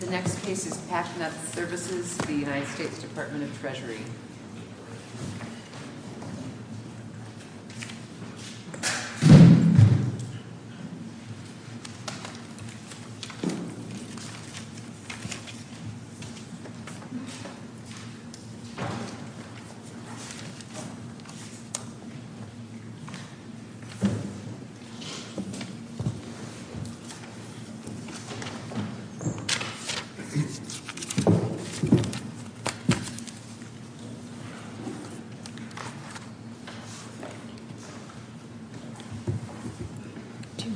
The next case is PacNet Services, United States Department of Treasury.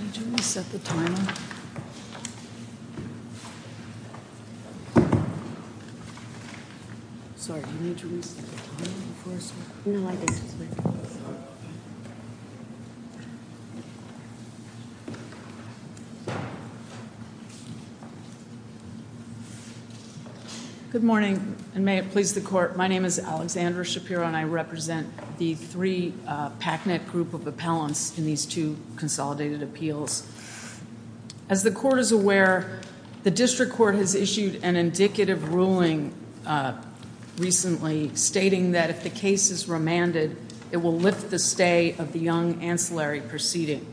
Do you need to reset the timer? Sorry, do you need to reset the timer? Good morning, and may it please the court, my name is Alexandra Shapiro and I represent the three PacNet group of appellants in these two consolidated appeals. As the court is aware, the district court has issued an indicative ruling recently stating that if the case is remanded, it will lift the stay of the young ancillary proceeding.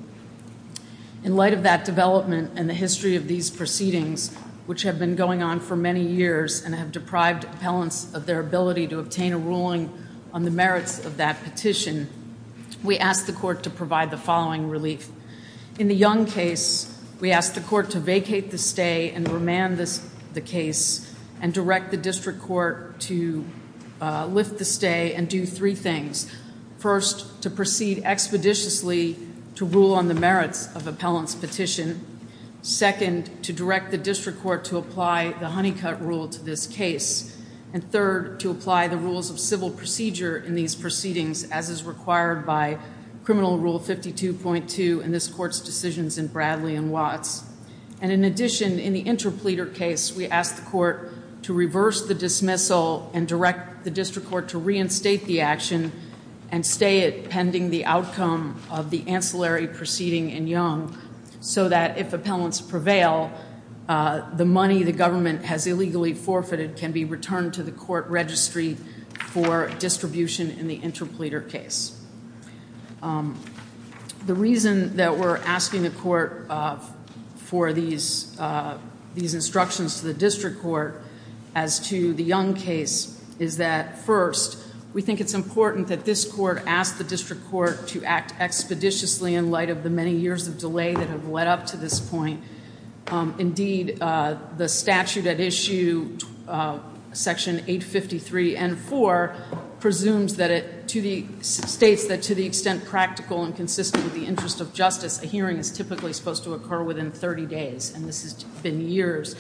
In light of that development and the history of these proceedings, which have been going on for many years and have deprived appellants of their ability to obtain a ruling on the merits of that petition, we ask the court to provide the following relief. In the young case, we ask the court to vacate the stay and remand the case and direct the district court to lift the stay and do three things. First, to proceed expeditiously to rule on the merits of appellant's petition. Second, to direct the district court to apply the honeycut rule to this case. And third, to apply the rules of civil procedure in these proceedings as is required by Criminal Rule 52.2 in this court's decisions in Bradley and Watts. And in addition, in the interpleader case, we ask the court to reverse the dismissal and direct the district court to reinstate the action and stay it pending the outcome of the ancillary proceeding in young, so that if appellants prevail, the money the government has illegally forfeited can be returned to the court registry for distribution in the interpleader case. The reason that we're asking the court for these instructions to the district court as to the young case is that, first, we think it's important that this court ask the district court to act expeditiously in light of the many years of delay that have led up to this point. Indeed, the statute at issue section 853 and 4 presumes that it states that to the extent practical and consistent with the interest of justice, a hearing is typically supposed to occur within 30 days. And this has been years.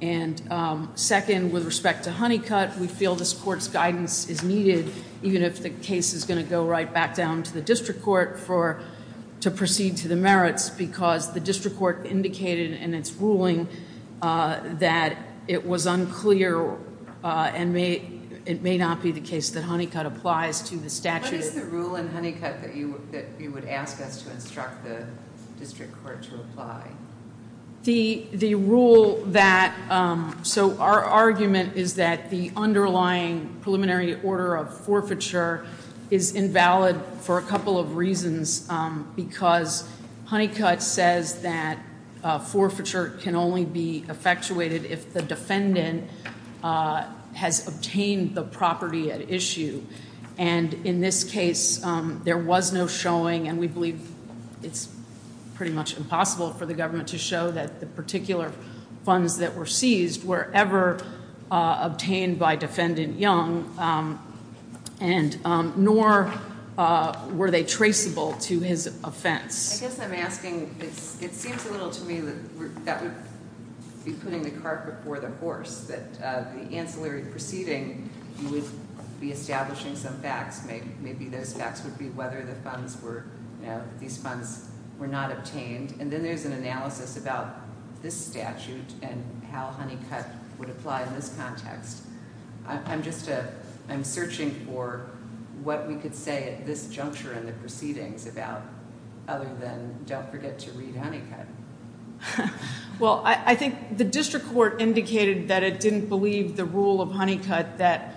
And second, with respect to honeycut, we feel this court's guidance is needed, even if the case is going to go right back down to the district court to proceed to the merits, because the district court indicated in its ruling that it was unclear and it may not be the case that honeycut applies to the statute. What is the rule in honeycut that you would ask us to instruct the district court to apply? The rule that, so our argument is that the underlying preliminary order of forfeiture is invalid for a couple of reasons, because honeycut says that forfeiture can only be effectuated if the defendant has obtained the property at issue. And in this case, there was no showing, and we believe it's pretty much impossible for the government to show, that the particular funds that were seized were ever obtained by Defendant Young, nor were they traceable to his offense. I guess I'm asking, it seems a little to me that that would be putting the cart before the horse, that the ancillary proceeding would be establishing some facts. Maybe those facts would be whether the funds were, you know, these funds were not obtained. And then there's an analysis about this statute and how honeycut would apply in this context. I'm just a, I'm searching for what we could say at this juncture in the proceedings about other than don't forget to read honeycut. Well, I think the district court indicated that it didn't believe the rule of honeycut that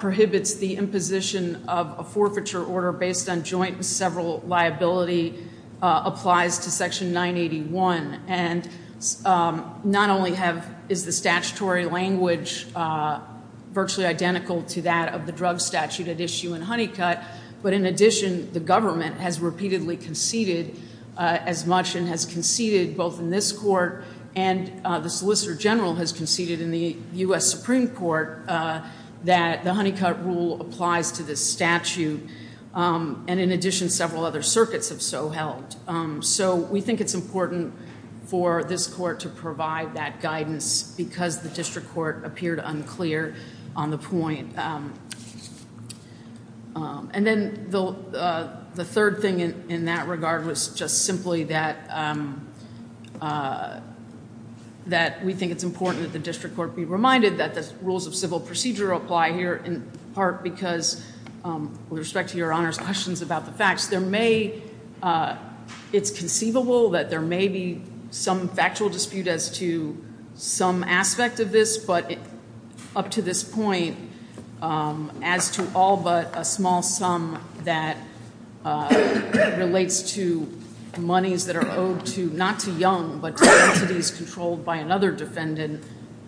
prohibits the imposition of a forfeiture order based on joint and several liability applies to Section 981. And not only have, is the statutory language virtually identical to that of the drug statute at issue in honeycut, but in addition, the government has repeatedly conceded as much and has conceded both in this court and the Solicitor General has conceded in the U.S. Supreme Court that the honeycut rule applies to this statute. And in addition, several other circuits have so held. So we think it's important for this court to provide that guidance because the district court appeared unclear on the point. And then the third thing in that regard was just simply that we think it's important that the district court be reminded that the rules of civil procedure apply here in part because with respect to Your Honor's questions about the facts, there may, it's conceivable that there may be some factual dispute as to some aspect of this, but up to this point, as to all but a small sum that relates to monies that are owed to, not to Young, but to entities controlled by another defendant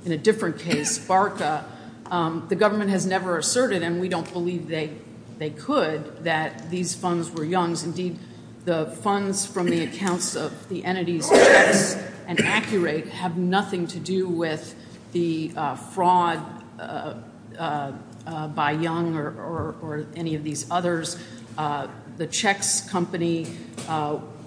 in a different case, Barca, the government has never asserted, and we don't believe they could, that these funds were Young's. Indeed, the funds from the accounts of the entities Chex and Accurate have nothing to do with the fraud by Young or any of these others. The Chex company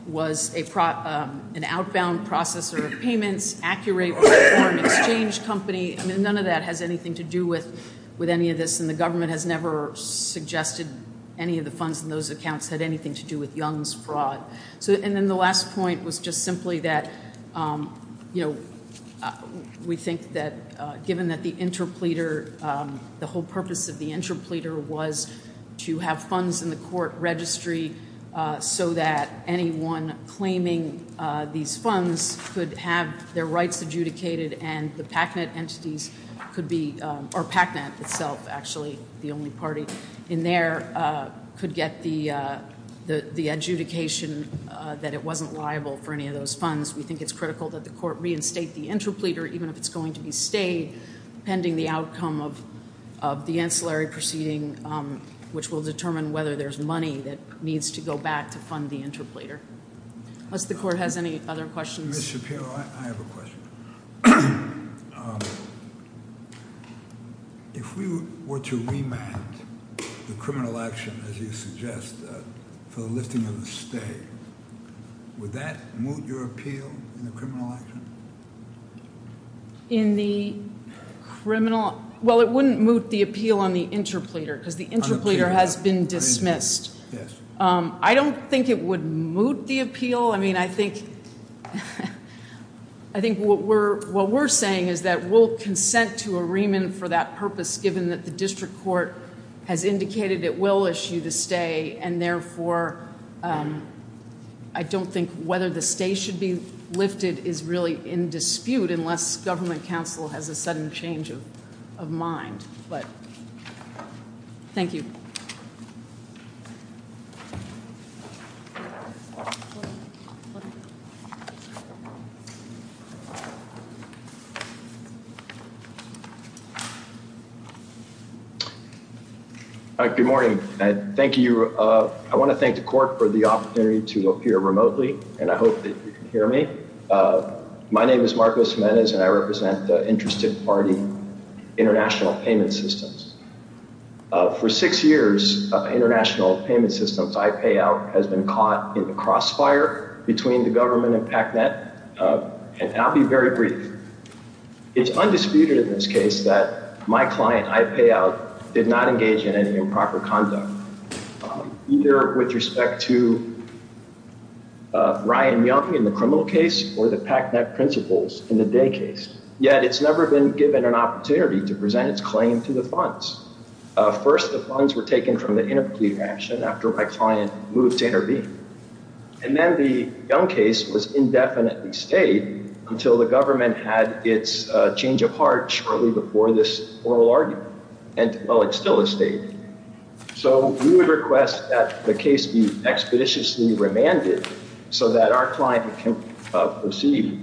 was an outbound processor of payments. Accurate was a foreign exchange company. None of that has anything to do with any of this, and the government has never suggested any of the funds in those accounts had anything to do with Young's fraud. And then the last point was just simply that we think that given that the interpleader, the whole purpose of the interpleader was to have funds in the court registry so that anyone claiming these funds could have their rights adjudicated and the PACNET entities could be, or PACNET itself actually, the only party in there, could get the adjudication that it wasn't liable for any of those funds. We think it's critical that the court reinstate the interpleader, even if it's going to be stayed pending the outcome of the ancillary proceeding, which will determine whether there's money that needs to go back to fund the interpleader. Unless the court has any other questions. Ms. Shapiro, I have a question. If we were to remand the criminal action, as you suggest, for the lifting of the stay, would that moot your appeal in the criminal action? In the criminal? Well, it wouldn't moot the appeal on the interpleader because the interpleader has been dismissed. I don't think it would moot the appeal. I mean, I think what we're saying is that we'll consent to a remand for that purpose, given that the district court has indicated it will issue the stay, and, therefore, I don't think whether the stay should be lifted is really in dispute unless government counsel has a sudden change of mind. But thank you. Thank you. Good morning. Thank you. I want to thank the court for the opportunity to appear remotely, and I hope that you can hear me. My name is Marcos Jimenez, and I represent the Interested Party International Payment Systems. For six years, International Payment Systems, IPAO, has been caught in the crossfire between the government and PACNET, and I'll be very brief. It's undisputed in this case that my client, IPAO, did not engage in any improper conduct, either with respect to Ryan Young in the criminal case or the PACNET principals in the Day case. Yet it's never been given an opportunity to present its claim to the funds. First, the funds were taken from the interpreter action after my client moved to intervene. And then the Young case was indefinitely stayed until the government had its change of heart shortly before this oral argument. And, well, it's still a stay. So we would request that the case be expeditiously remanded so that our client can proceed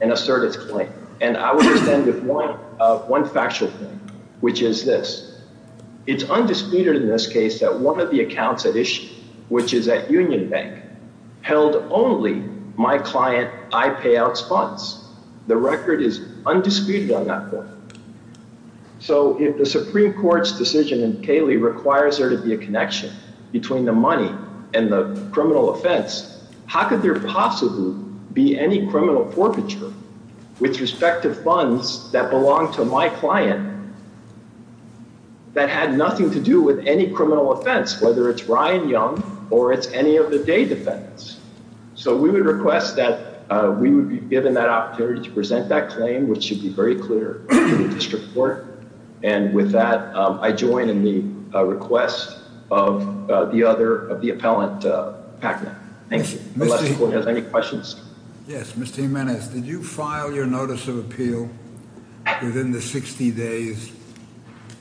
and assert its claim. And I would extend one factual point, which is this. It's undisputed in this case that one of the accounts at issue, which is at Union Bank, held only my client IPAO's funds. The record is undisputed on that point. So if the Supreme Court's decision in Cayley requires there to be a connection between the money and the criminal offense, how could there possibly be any criminal forfeiture with respect to funds that belong to my client that had nothing to do with any criminal offense, whether it's Ryan Young or it's any of the Day defendants? So we would request that we would be given that opportunity to present that claim, which should be very clear to the district court. And with that, I join in the request of the other of the appellant. Thank you. Any questions? Yes. Mr. Jimenez, did you file your notice of appeal within the 60 days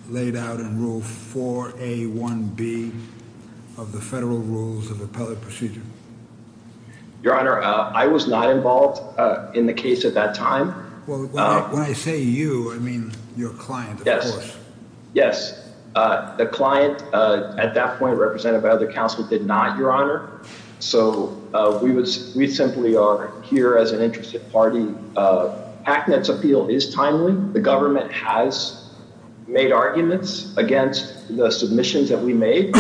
laid out in Rule 4A1B of the federal rules of appellate procedure? Your Honor, I was not involved in the case at that time. Well, when I say you, I mean your client. Yes. Yes. The client at that point represented by other counsel did not, Your Honor. So we simply are here as an interested party. PACNET's appeal is timely. The government has made arguments against the submissions that we made,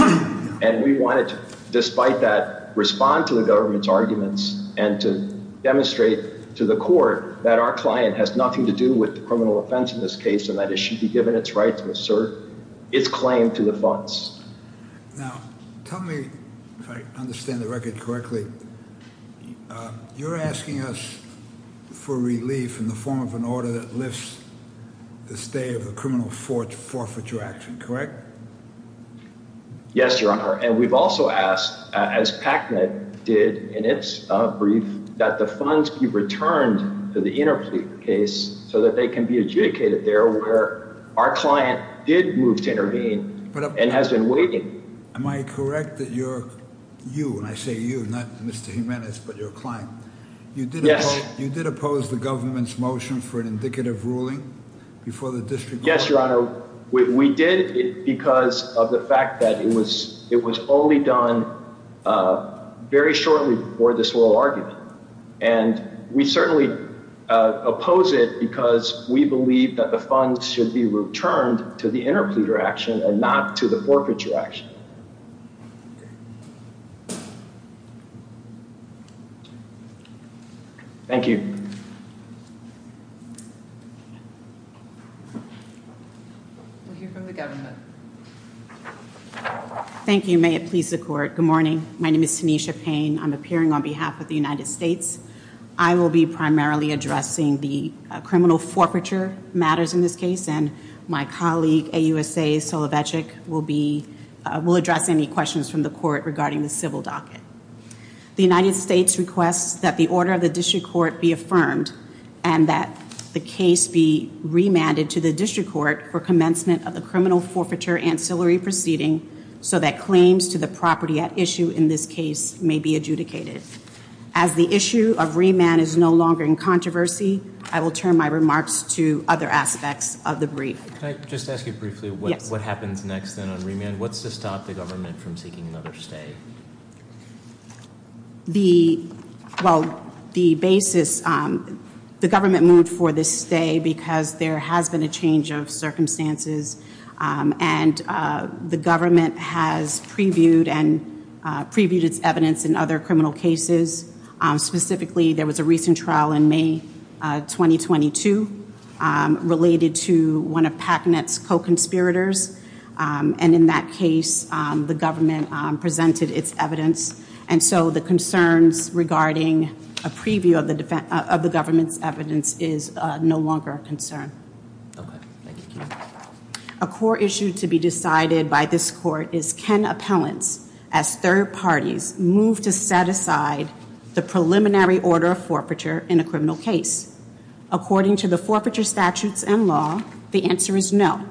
and we wanted to, despite that, respond to the government's arguments and to demonstrate to the court that our client has nothing to do with the criminal offense in this case and that it should be given its right to assert its claim to the funds. Now, tell me if I understand the record correctly, you're asking us for relief in the form of an order that lifts the stay of the criminal forfeiture action, correct? Yes, Your Honor. And we've also asked, as PACNET did in its brief, that the funds be returned to the interplea case so that they can be adjudicated there where our client did move to intervene and has been waiting. Am I correct that you, and I say you, not Mr. Jimenez, but your client, you did oppose the government's motion for an indicative ruling before the district court? Yes, Your Honor. We did it because of the fact that it was only done very shortly before this oral argument. And we certainly oppose it because we believe that the funds should be returned to the interplea direction and not to the forfeiture action. Thank you. We'll hear from the government. Thank you. May it please the court. Good morning. My name is Tanisha Payne. I'm appearing on behalf of the United States. I will be primarily addressing the criminal forfeiture matters in this case. And my colleague, AUSA Solovechik, will address any questions from the court regarding the civil docket. The United States requests that the order of the district court be affirmed and that the case be remanded to the district court for commencement of the criminal forfeiture ancillary proceeding so that claims to the property at issue in this case may be adjudicated. As the issue of remand is no longer in controversy, I will turn my remarks to other aspects of the brief. Can I just ask you briefly what happens next then on remand? What's to stop the government from seeking another stay? The basis, the government moved for this stay because there has been a change of circumstances. And the government has previewed and previewed its evidence in other criminal cases. Specifically, there was a recent trial in May 2022 related to one of PACNET's co-conspirators. And in that case, the government presented its evidence. And so the concerns regarding a preview of the government's evidence is no longer a concern. A core issue to be decided by this court is can appellants, as third parties, move to set aside the preliminary order of forfeiture in a criminal case? According to the forfeiture statutes and law, the answer is no.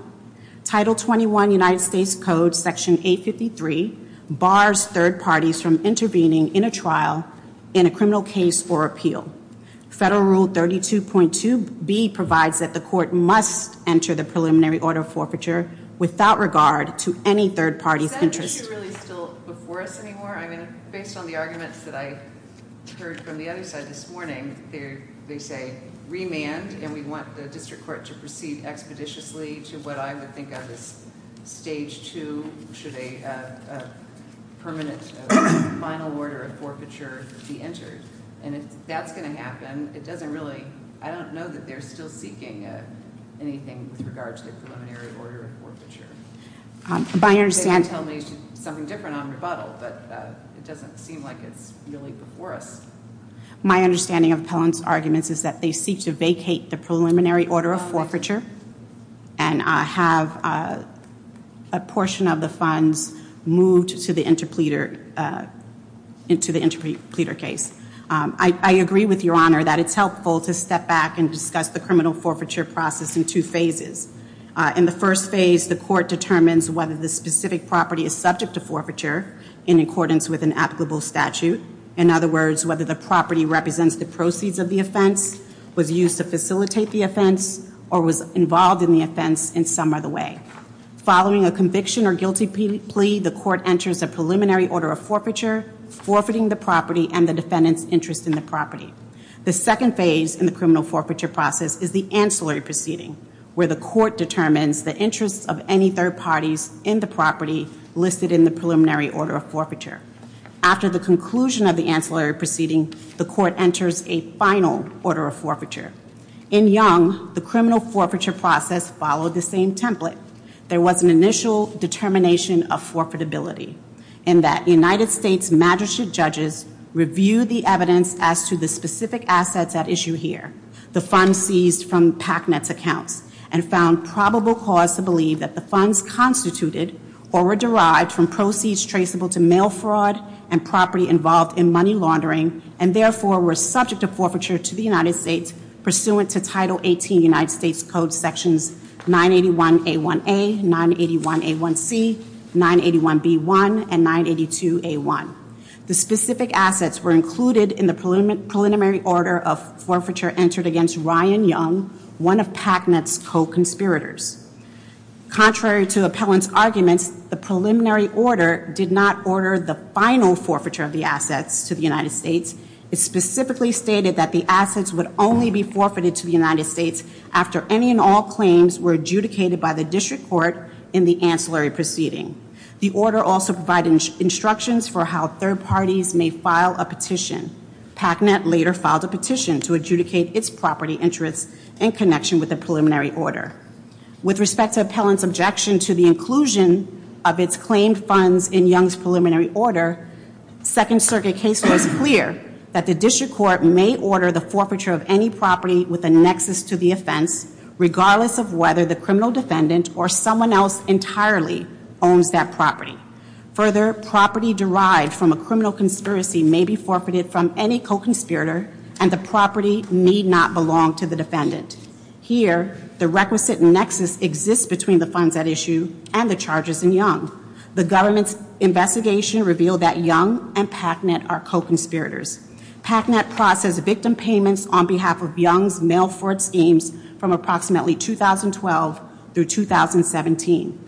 Title 21 United States Code Section 853 bars third parties from intervening in a trial in a criminal case for appeal. Federal Rule 32.2B provides that the court must enter the preliminary order of forfeiture without regard to any third party's interest. Is that issue really still before us anymore? I mean, based on the arguments that I heard from the other side this morning, they say remand, and we want the district court to proceed expeditiously to what I would think of as stage two, should a permanent final order of forfeiture be entered. And if that's going to happen, it doesn't really, I don't know that they're still seeking anything with regard to the preliminary order of forfeiture. They can tell me something different on rebuttal, but it doesn't seem like it's really before us. My understanding of Appellant's arguments is that they seek to vacate the preliminary order of forfeiture and have a portion of the funds moved to the interpleader case. I agree with Your Honor that it's helpful to step back and discuss the criminal forfeiture process in two phases. In the first phase, the court determines whether the specific property is subject to forfeiture in accordance with an applicable statute. In other words, whether the property represents the proceeds of the offense, was used to facilitate the offense, or was involved in the offense in some other way. Following a conviction or guilty plea, the court enters a preliminary order of forfeiture, forfeiting the property and the defendant's interest in the property. The second phase in the criminal forfeiture process is the ancillary proceeding, where the court determines the interests of any third parties in the property listed in the preliminary order of forfeiture. After the conclusion of the ancillary proceeding, the court enters a final order of forfeiture. In Young, the criminal forfeiture process followed the same template. There was an initial determination of forfeitability, in that United States magistrate judges reviewed the evidence as to the specific assets at issue here, the funds seized from PACNET's accounts, and found probable cause to believe that the funds constituted or were derived from proceeds traceable to mail fraud and property involved in money laundering, and therefore were subject to forfeiture to the United States, pursuant to Title 18 United States Code Sections 981A1A, 981A1C, 981B1, and 982A1. The specific assets were included in the preliminary order of forfeiture entered against Ryan Young, one of PACNET's co-conspirators. Contrary to appellant's arguments, the preliminary order did not order the final forfeiture of the assets to the United States. It specifically stated that the assets would only be forfeited to the United States after any and all claims were adjudicated by the district court in the ancillary proceeding. The order also provided instructions for how third parties may file a petition. PACNET later filed a petition to adjudicate its property interests in connection with the preliminary order. With respect to appellant's objection to the inclusion of its claimed funds in Young's preliminary order, Second Circuit case law is clear that the district court may order the forfeiture of any property with a nexus to the offense, regardless of whether the criminal defendant or someone else entirely owns that property. Further, property derived from a criminal conspiracy may be forfeited from any co-conspirator, Here, the requisite nexus exists between the funds at issue and the charges in Young. The government's investigation revealed that Young and PACNET are co-conspirators. PACNET processed victim payments on behalf of Young's mail fraud schemes from approximately 2012 through 2017.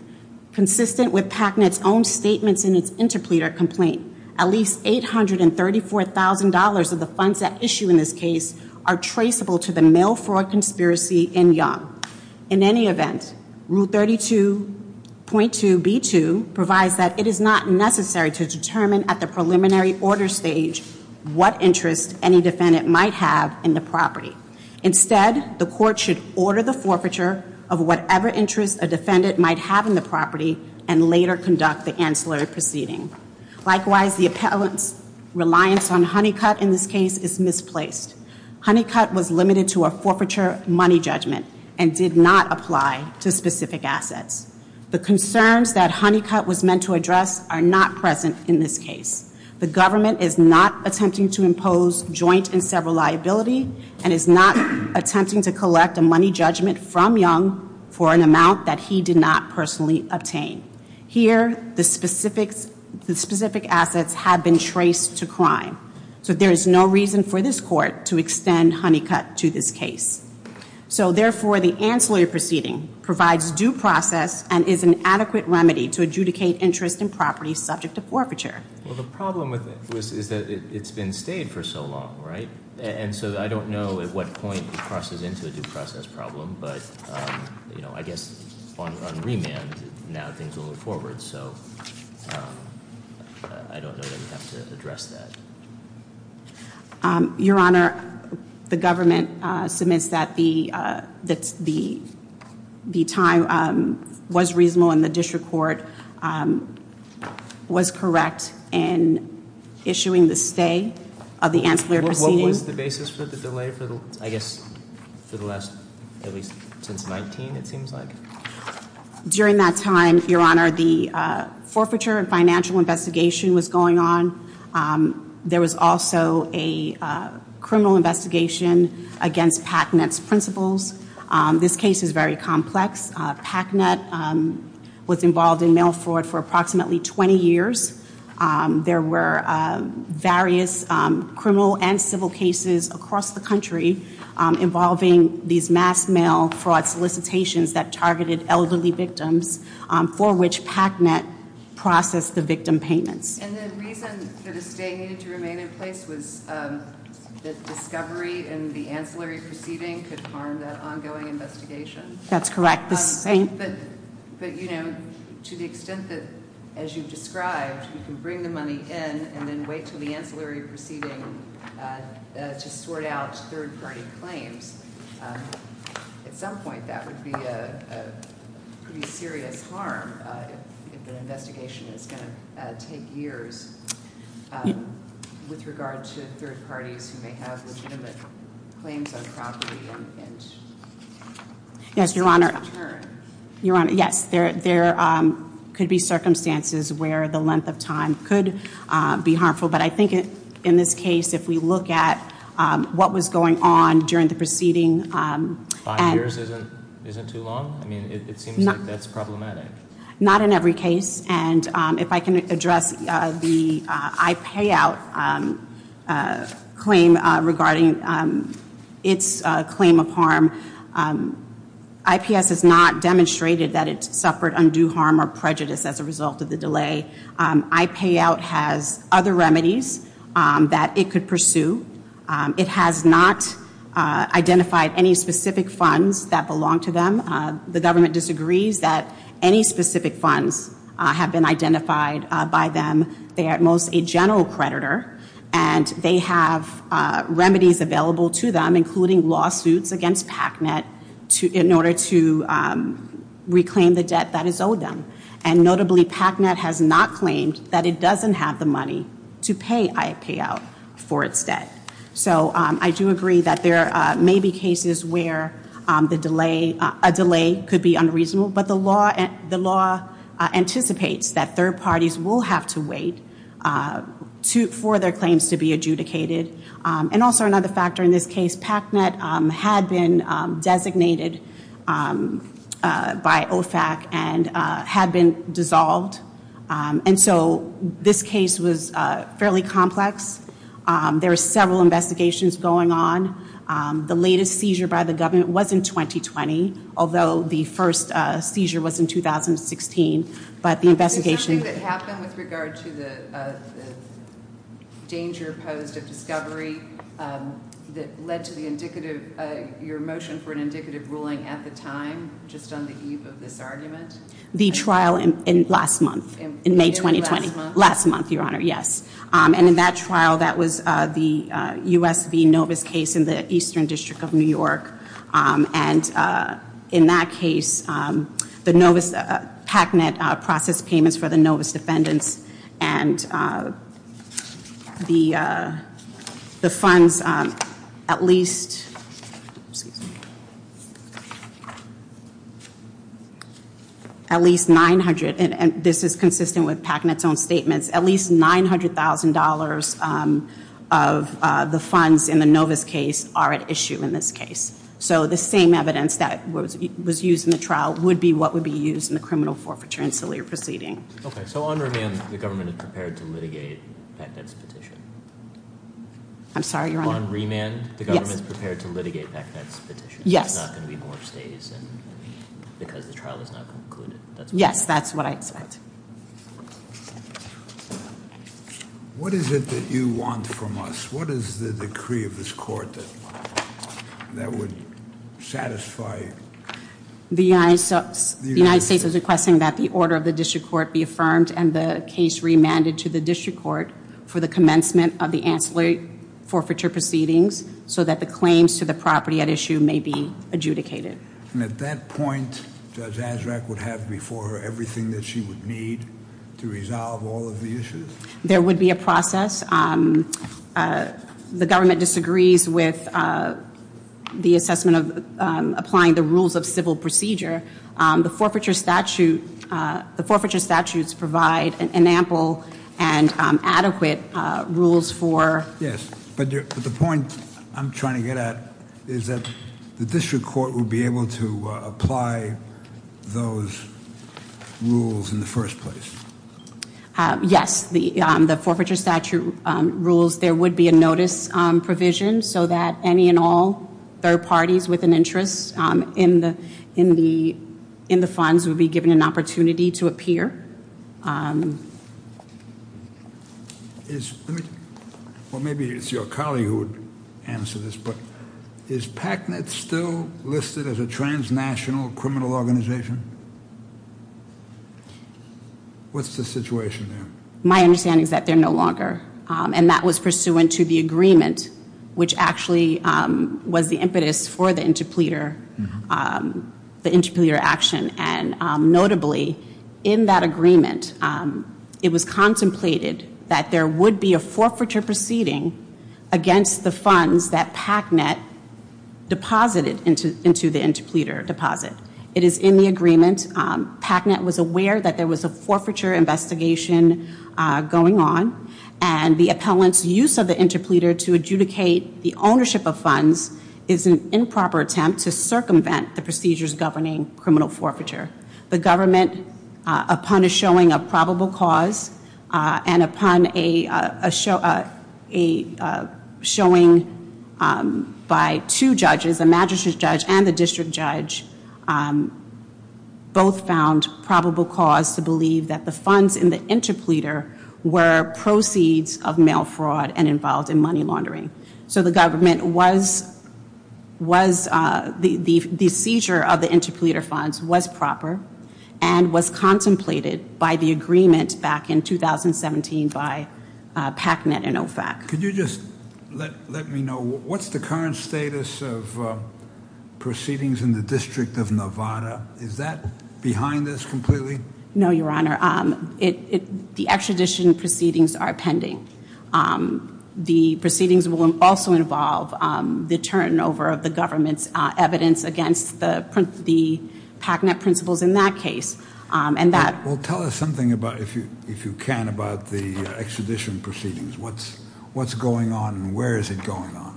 Consistent with PACNET's own statements in its interpleader complaint, at least $834,000 of the funds at issue in this case are traceable to the mail fraud conspiracy in Young. In any event, Rule 32.2b2 provides that it is not necessary to determine at the preliminary order stage what interest any defendant might have in the property. Instead, the court should order the forfeiture of whatever interest a defendant might have in the property and later conduct the ancillary proceeding. Likewise, the appellant's reliance on Honeycutt in this case is misplaced. Honeycutt was limited to a forfeiture money judgment and did not apply to specific assets. The concerns that Honeycutt was meant to address are not present in this case. The government is not attempting to impose joint and several liability and is not attempting to collect a money judgment from Young for an amount that he did not personally obtain. Here, the specific assets have been traced to crime, so there is no reason for this court to extend Honeycutt to this case. So therefore, the ancillary proceeding provides due process and is an adequate remedy to adjudicate interest in property subject to forfeiture. Well, the problem with it is that it's been stayed for so long, right? And so I don't know at what point it crosses into a due process problem, but I guess on remand, now things will move forward. So I don't know that we have to address that. Your Honor, the government submits that the time was reasonable and the district court was correct in issuing the stay of the ancillary proceeding. What was the basis for the delay for the last, at least since 19, it seems like? During that time, Your Honor, the forfeiture and financial investigation was going on. There was also a criminal investigation against Packnett's principles. This case is very complex. Packnett was involved in mail fraud for approximately 20 years. There were various criminal and civil cases across the country involving these mass mail fraud solicitations that targeted elderly victims for which Packnett processed the victim payments. And the reason that a stay needed to remain in place was that discovery and the ancillary proceeding could harm that ongoing investigation? That's correct. But, you know, to the extent that, as you've described, you can bring the money in and then wait until the ancillary proceeding to sort out third-party claims, at some point that would be a pretty serious harm if the investigation is going to take years with regard to third parties who may have legitimate claims on property and Yes, Your Honor. Yes, there could be circumstances where the length of time could be harmful. But I think in this case, if we look at what was going on during the proceeding Five years isn't too long? I mean, it seems like that's problematic. Not in every case. And if I can address the iPayout claim regarding its claim of harm. IPS has not demonstrated that it suffered undue harm or prejudice as a result of the delay. iPayout has other remedies that it could pursue. It has not identified any specific funds that belong to them. The government disagrees that any specific funds have been identified by them. They are at most a general creditor, and they have remedies available to them, including lawsuits against PACNET in order to reclaim the debt that is owed them. And notably, PACNET has not claimed that it doesn't have the money to pay iPayout for its debt. So I do agree that there may be cases where a delay could be unreasonable. But the law anticipates that third parties will have to wait for their claims to be adjudicated. And also another factor in this case, PACNET had been designated by OFAC and had been dissolved. And so this case was fairly complex. There were several investigations going on. The latest seizure by the government was in 2020, although the first seizure was in 2016. But the investigation- Is something that happened with regard to the danger posed of discovery that led to the indicative, your motion for an indicative ruling at the time, just on the eve of this argument? The trial in last month, in May 2020. In last month? Last month, Your Honor, yes. And in that trial, that was the U.S. v. Novus case in the Eastern District of New York. And in that case, the Novus- PACNET processed payments for the Novus defendants. And the funds, at least- At least 900- And this is consistent with PACNET's own statements. At least $900,000 of the funds in the Novus case are at issue in this case. So the same evidence that was used in the trial would be what would be used in the criminal forfeiture and Salier proceeding. Okay, so on remand, the government is prepared to litigate PACNET's petition? I'm sorry, Your Honor? On remand, the government is prepared to litigate PACNET's petition? Yes. There's not going to be more stays because the trial is not concluded? Yes, that's what I expect. What is it that you want from us? What is the decree of this court that would satisfy- The United States is requesting that the order of the district court be affirmed and the case remanded to the district court for the commencement of the ancillary forfeiture proceedings so that the claims to the property at issue may be adjudicated. And at that point, Judge Azraq would have before her everything that she would need to resolve all of the issues? There would be a process. The government disagrees with the assessment of applying the rules of civil procedure. The forfeiture statutes provide an ample and adequate rules for- The point I'm trying to get at is that the district court would be able to apply those rules in the first place. Yes, the forfeiture statute rules, there would be a notice provision so that any and all third parties with an interest in the funds would be given an opportunity to appear. Well, maybe it's your colleague who would answer this, but is PACNET still listed as a transnational criminal organization? What's the situation there? My understanding is that they're no longer, and that was pursuant to the agreement, which actually was the impetus for the interpleader action. And notably, in that agreement, it was contemplated that there would be a forfeiture proceeding against the funds that PACNET deposited into the interpleader deposit. It is in the agreement. PACNET was aware that there was a forfeiture investigation going on, and the appellant's use of the interpleader to adjudicate the ownership of funds is an improper attempt to circumvent the procedures governing criminal forfeiture. The government, upon a showing of probable cause and upon a showing by two judges, a magistrate judge and the district judge, both found probable cause to believe that the funds in the interpleader were proceeds of mail fraud and involved in money laundering. So the government was, the seizure of the interpleader funds was proper and was contemplated by the agreement back in 2017 by PACNET and OFAC. Could you just let me know, what's the current status of proceedings in the District of Nevada? Is that behind this completely? No, Your Honor. The extradition proceedings are pending. The proceedings will also involve the turnover of the government's evidence against the PACNET principles in that case. Well, tell us something, if you can, about the extradition proceedings. What's going on and where is it going on?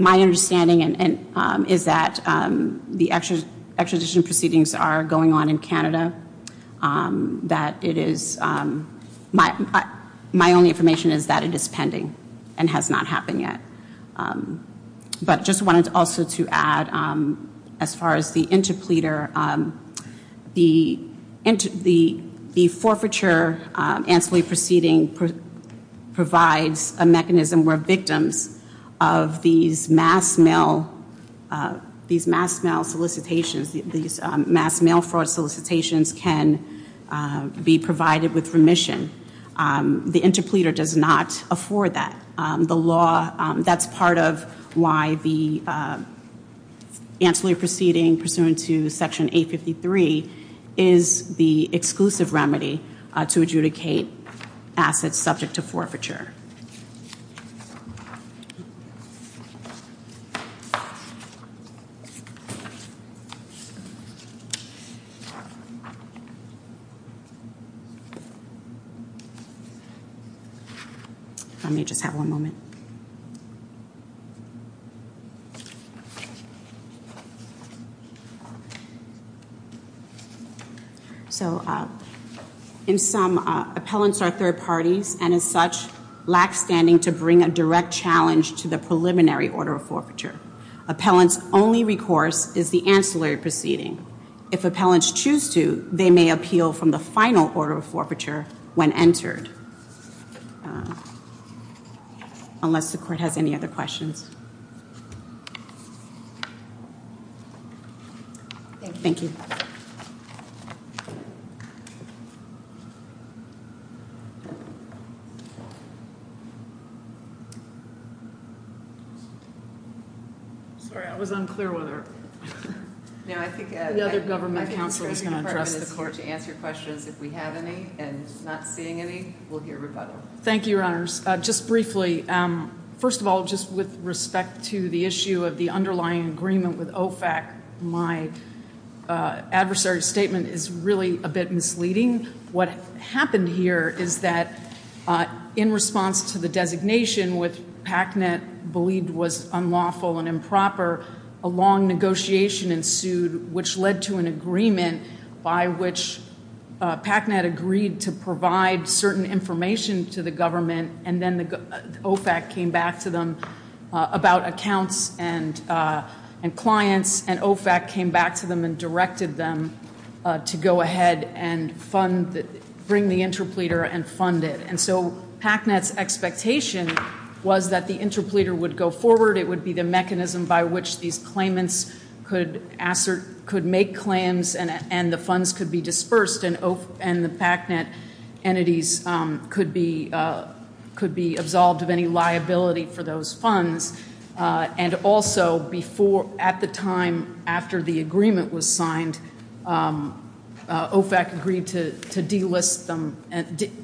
My understanding is that the extradition proceedings are going on in Canada. My only information is that it is pending and has not happened yet. But I just wanted also to add, as far as the interpleader, the forfeiture ancillary proceeding provides a mechanism where victims of these mass mail solicitations, these mass mail fraud solicitations can be provided with remission. The interpleader does not afford that. That's part of why the ancillary proceeding pursuant to Section 853 is the exclusive remedy to adjudicate assets subject to forfeiture. Let me just have one moment. So, in sum, appellants are third parties and as such, lack standing to bring a direct challenge to the preliminary order of forfeiture. Appellants' only recourse is the ancillary proceeding. If appellants choose to, they may appeal from the final order of forfeiture when entered. Unless the Court has any other questions. Thank you. Sorry, I was unclear whether the other government counsel was going to address the court. To answer your questions, if we have any and not seeing any, we'll hear rebuttal. Thank you, Your Honors. Just briefly, first of all, just with respect to the issue of the underlying agreement with OFAC, my adversary statement is really a bit misleading. What happened here is that in response to the designation, which PACNET believed was unlawful and improper, a long negotiation ensued, which led to an agreement by which PACNET agreed to provide certain information to the government and then OFAC came back to them about accounts and clients and OFAC came back to them and directed them to go ahead and bring the interpleader and fund it. And so PACNET's expectation was that the interpleader would go forward. It would be the mechanism by which these claimants could make claims and the funds could be dispersed and the PACNET entities could be absolved of any liability for those funds. And also, at the time after the agreement was signed, OFAC agreed to delist them,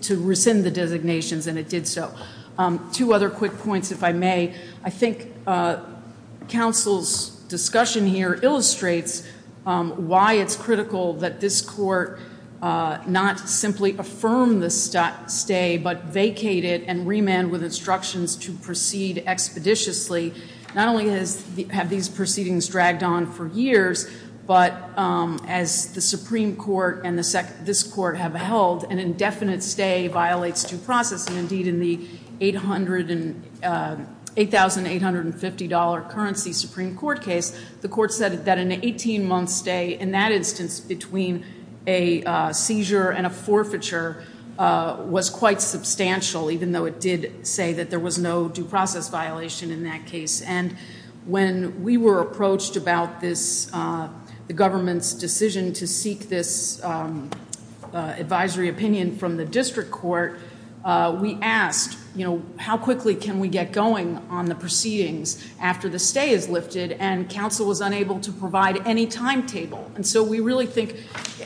to rescind the designations, and it did so. Two other quick points, if I may. I think counsel's discussion here illustrates why it's critical that this court not simply affirm the stay but vacate it and remand with instructions to proceed expeditiously. Not only have these proceedings dragged on for years, but as the Supreme Court and this court have held, an indefinite stay violates due process. And indeed, in the $8,850 currency Supreme Court case, the court said that an 18-month stay, in that instance between a seizure and a forfeiture, was quite substantial, even though it did say that there was no due process violation in that case. And when we were approached about the government's decision to seek this advisory opinion from the district court, we asked, you know, how quickly can we get going on the proceedings after the stay is lifted? And counsel was unable to provide any timetable. And so we really think,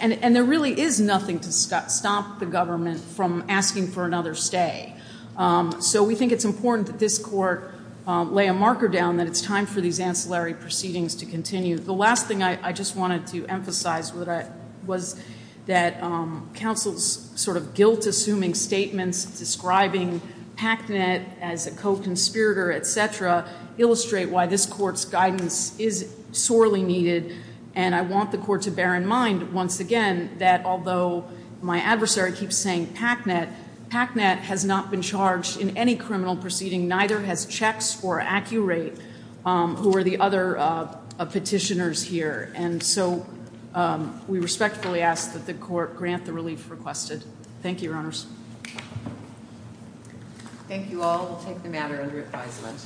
and there really is nothing to stop the government from asking for another stay. So we think it's important that this court lay a marker down that it's time for these ancillary proceedings to continue. The last thing I just wanted to emphasize was that counsel's sort of guilt-assuming statements describing PACNET as a co-conspirator, et cetera, illustrate why this court's guidance is sorely needed. And I want the court to bear in mind, once again, that although my adversary keeps saying PACNET, PACNET has not been charged in any criminal proceeding, neither has checks for Accurate, who are the other petitioners here. And so we respectfully ask that the court grant the relief requested. Thank you, Your Honors. Thank you all. We'll take the matter under advisement.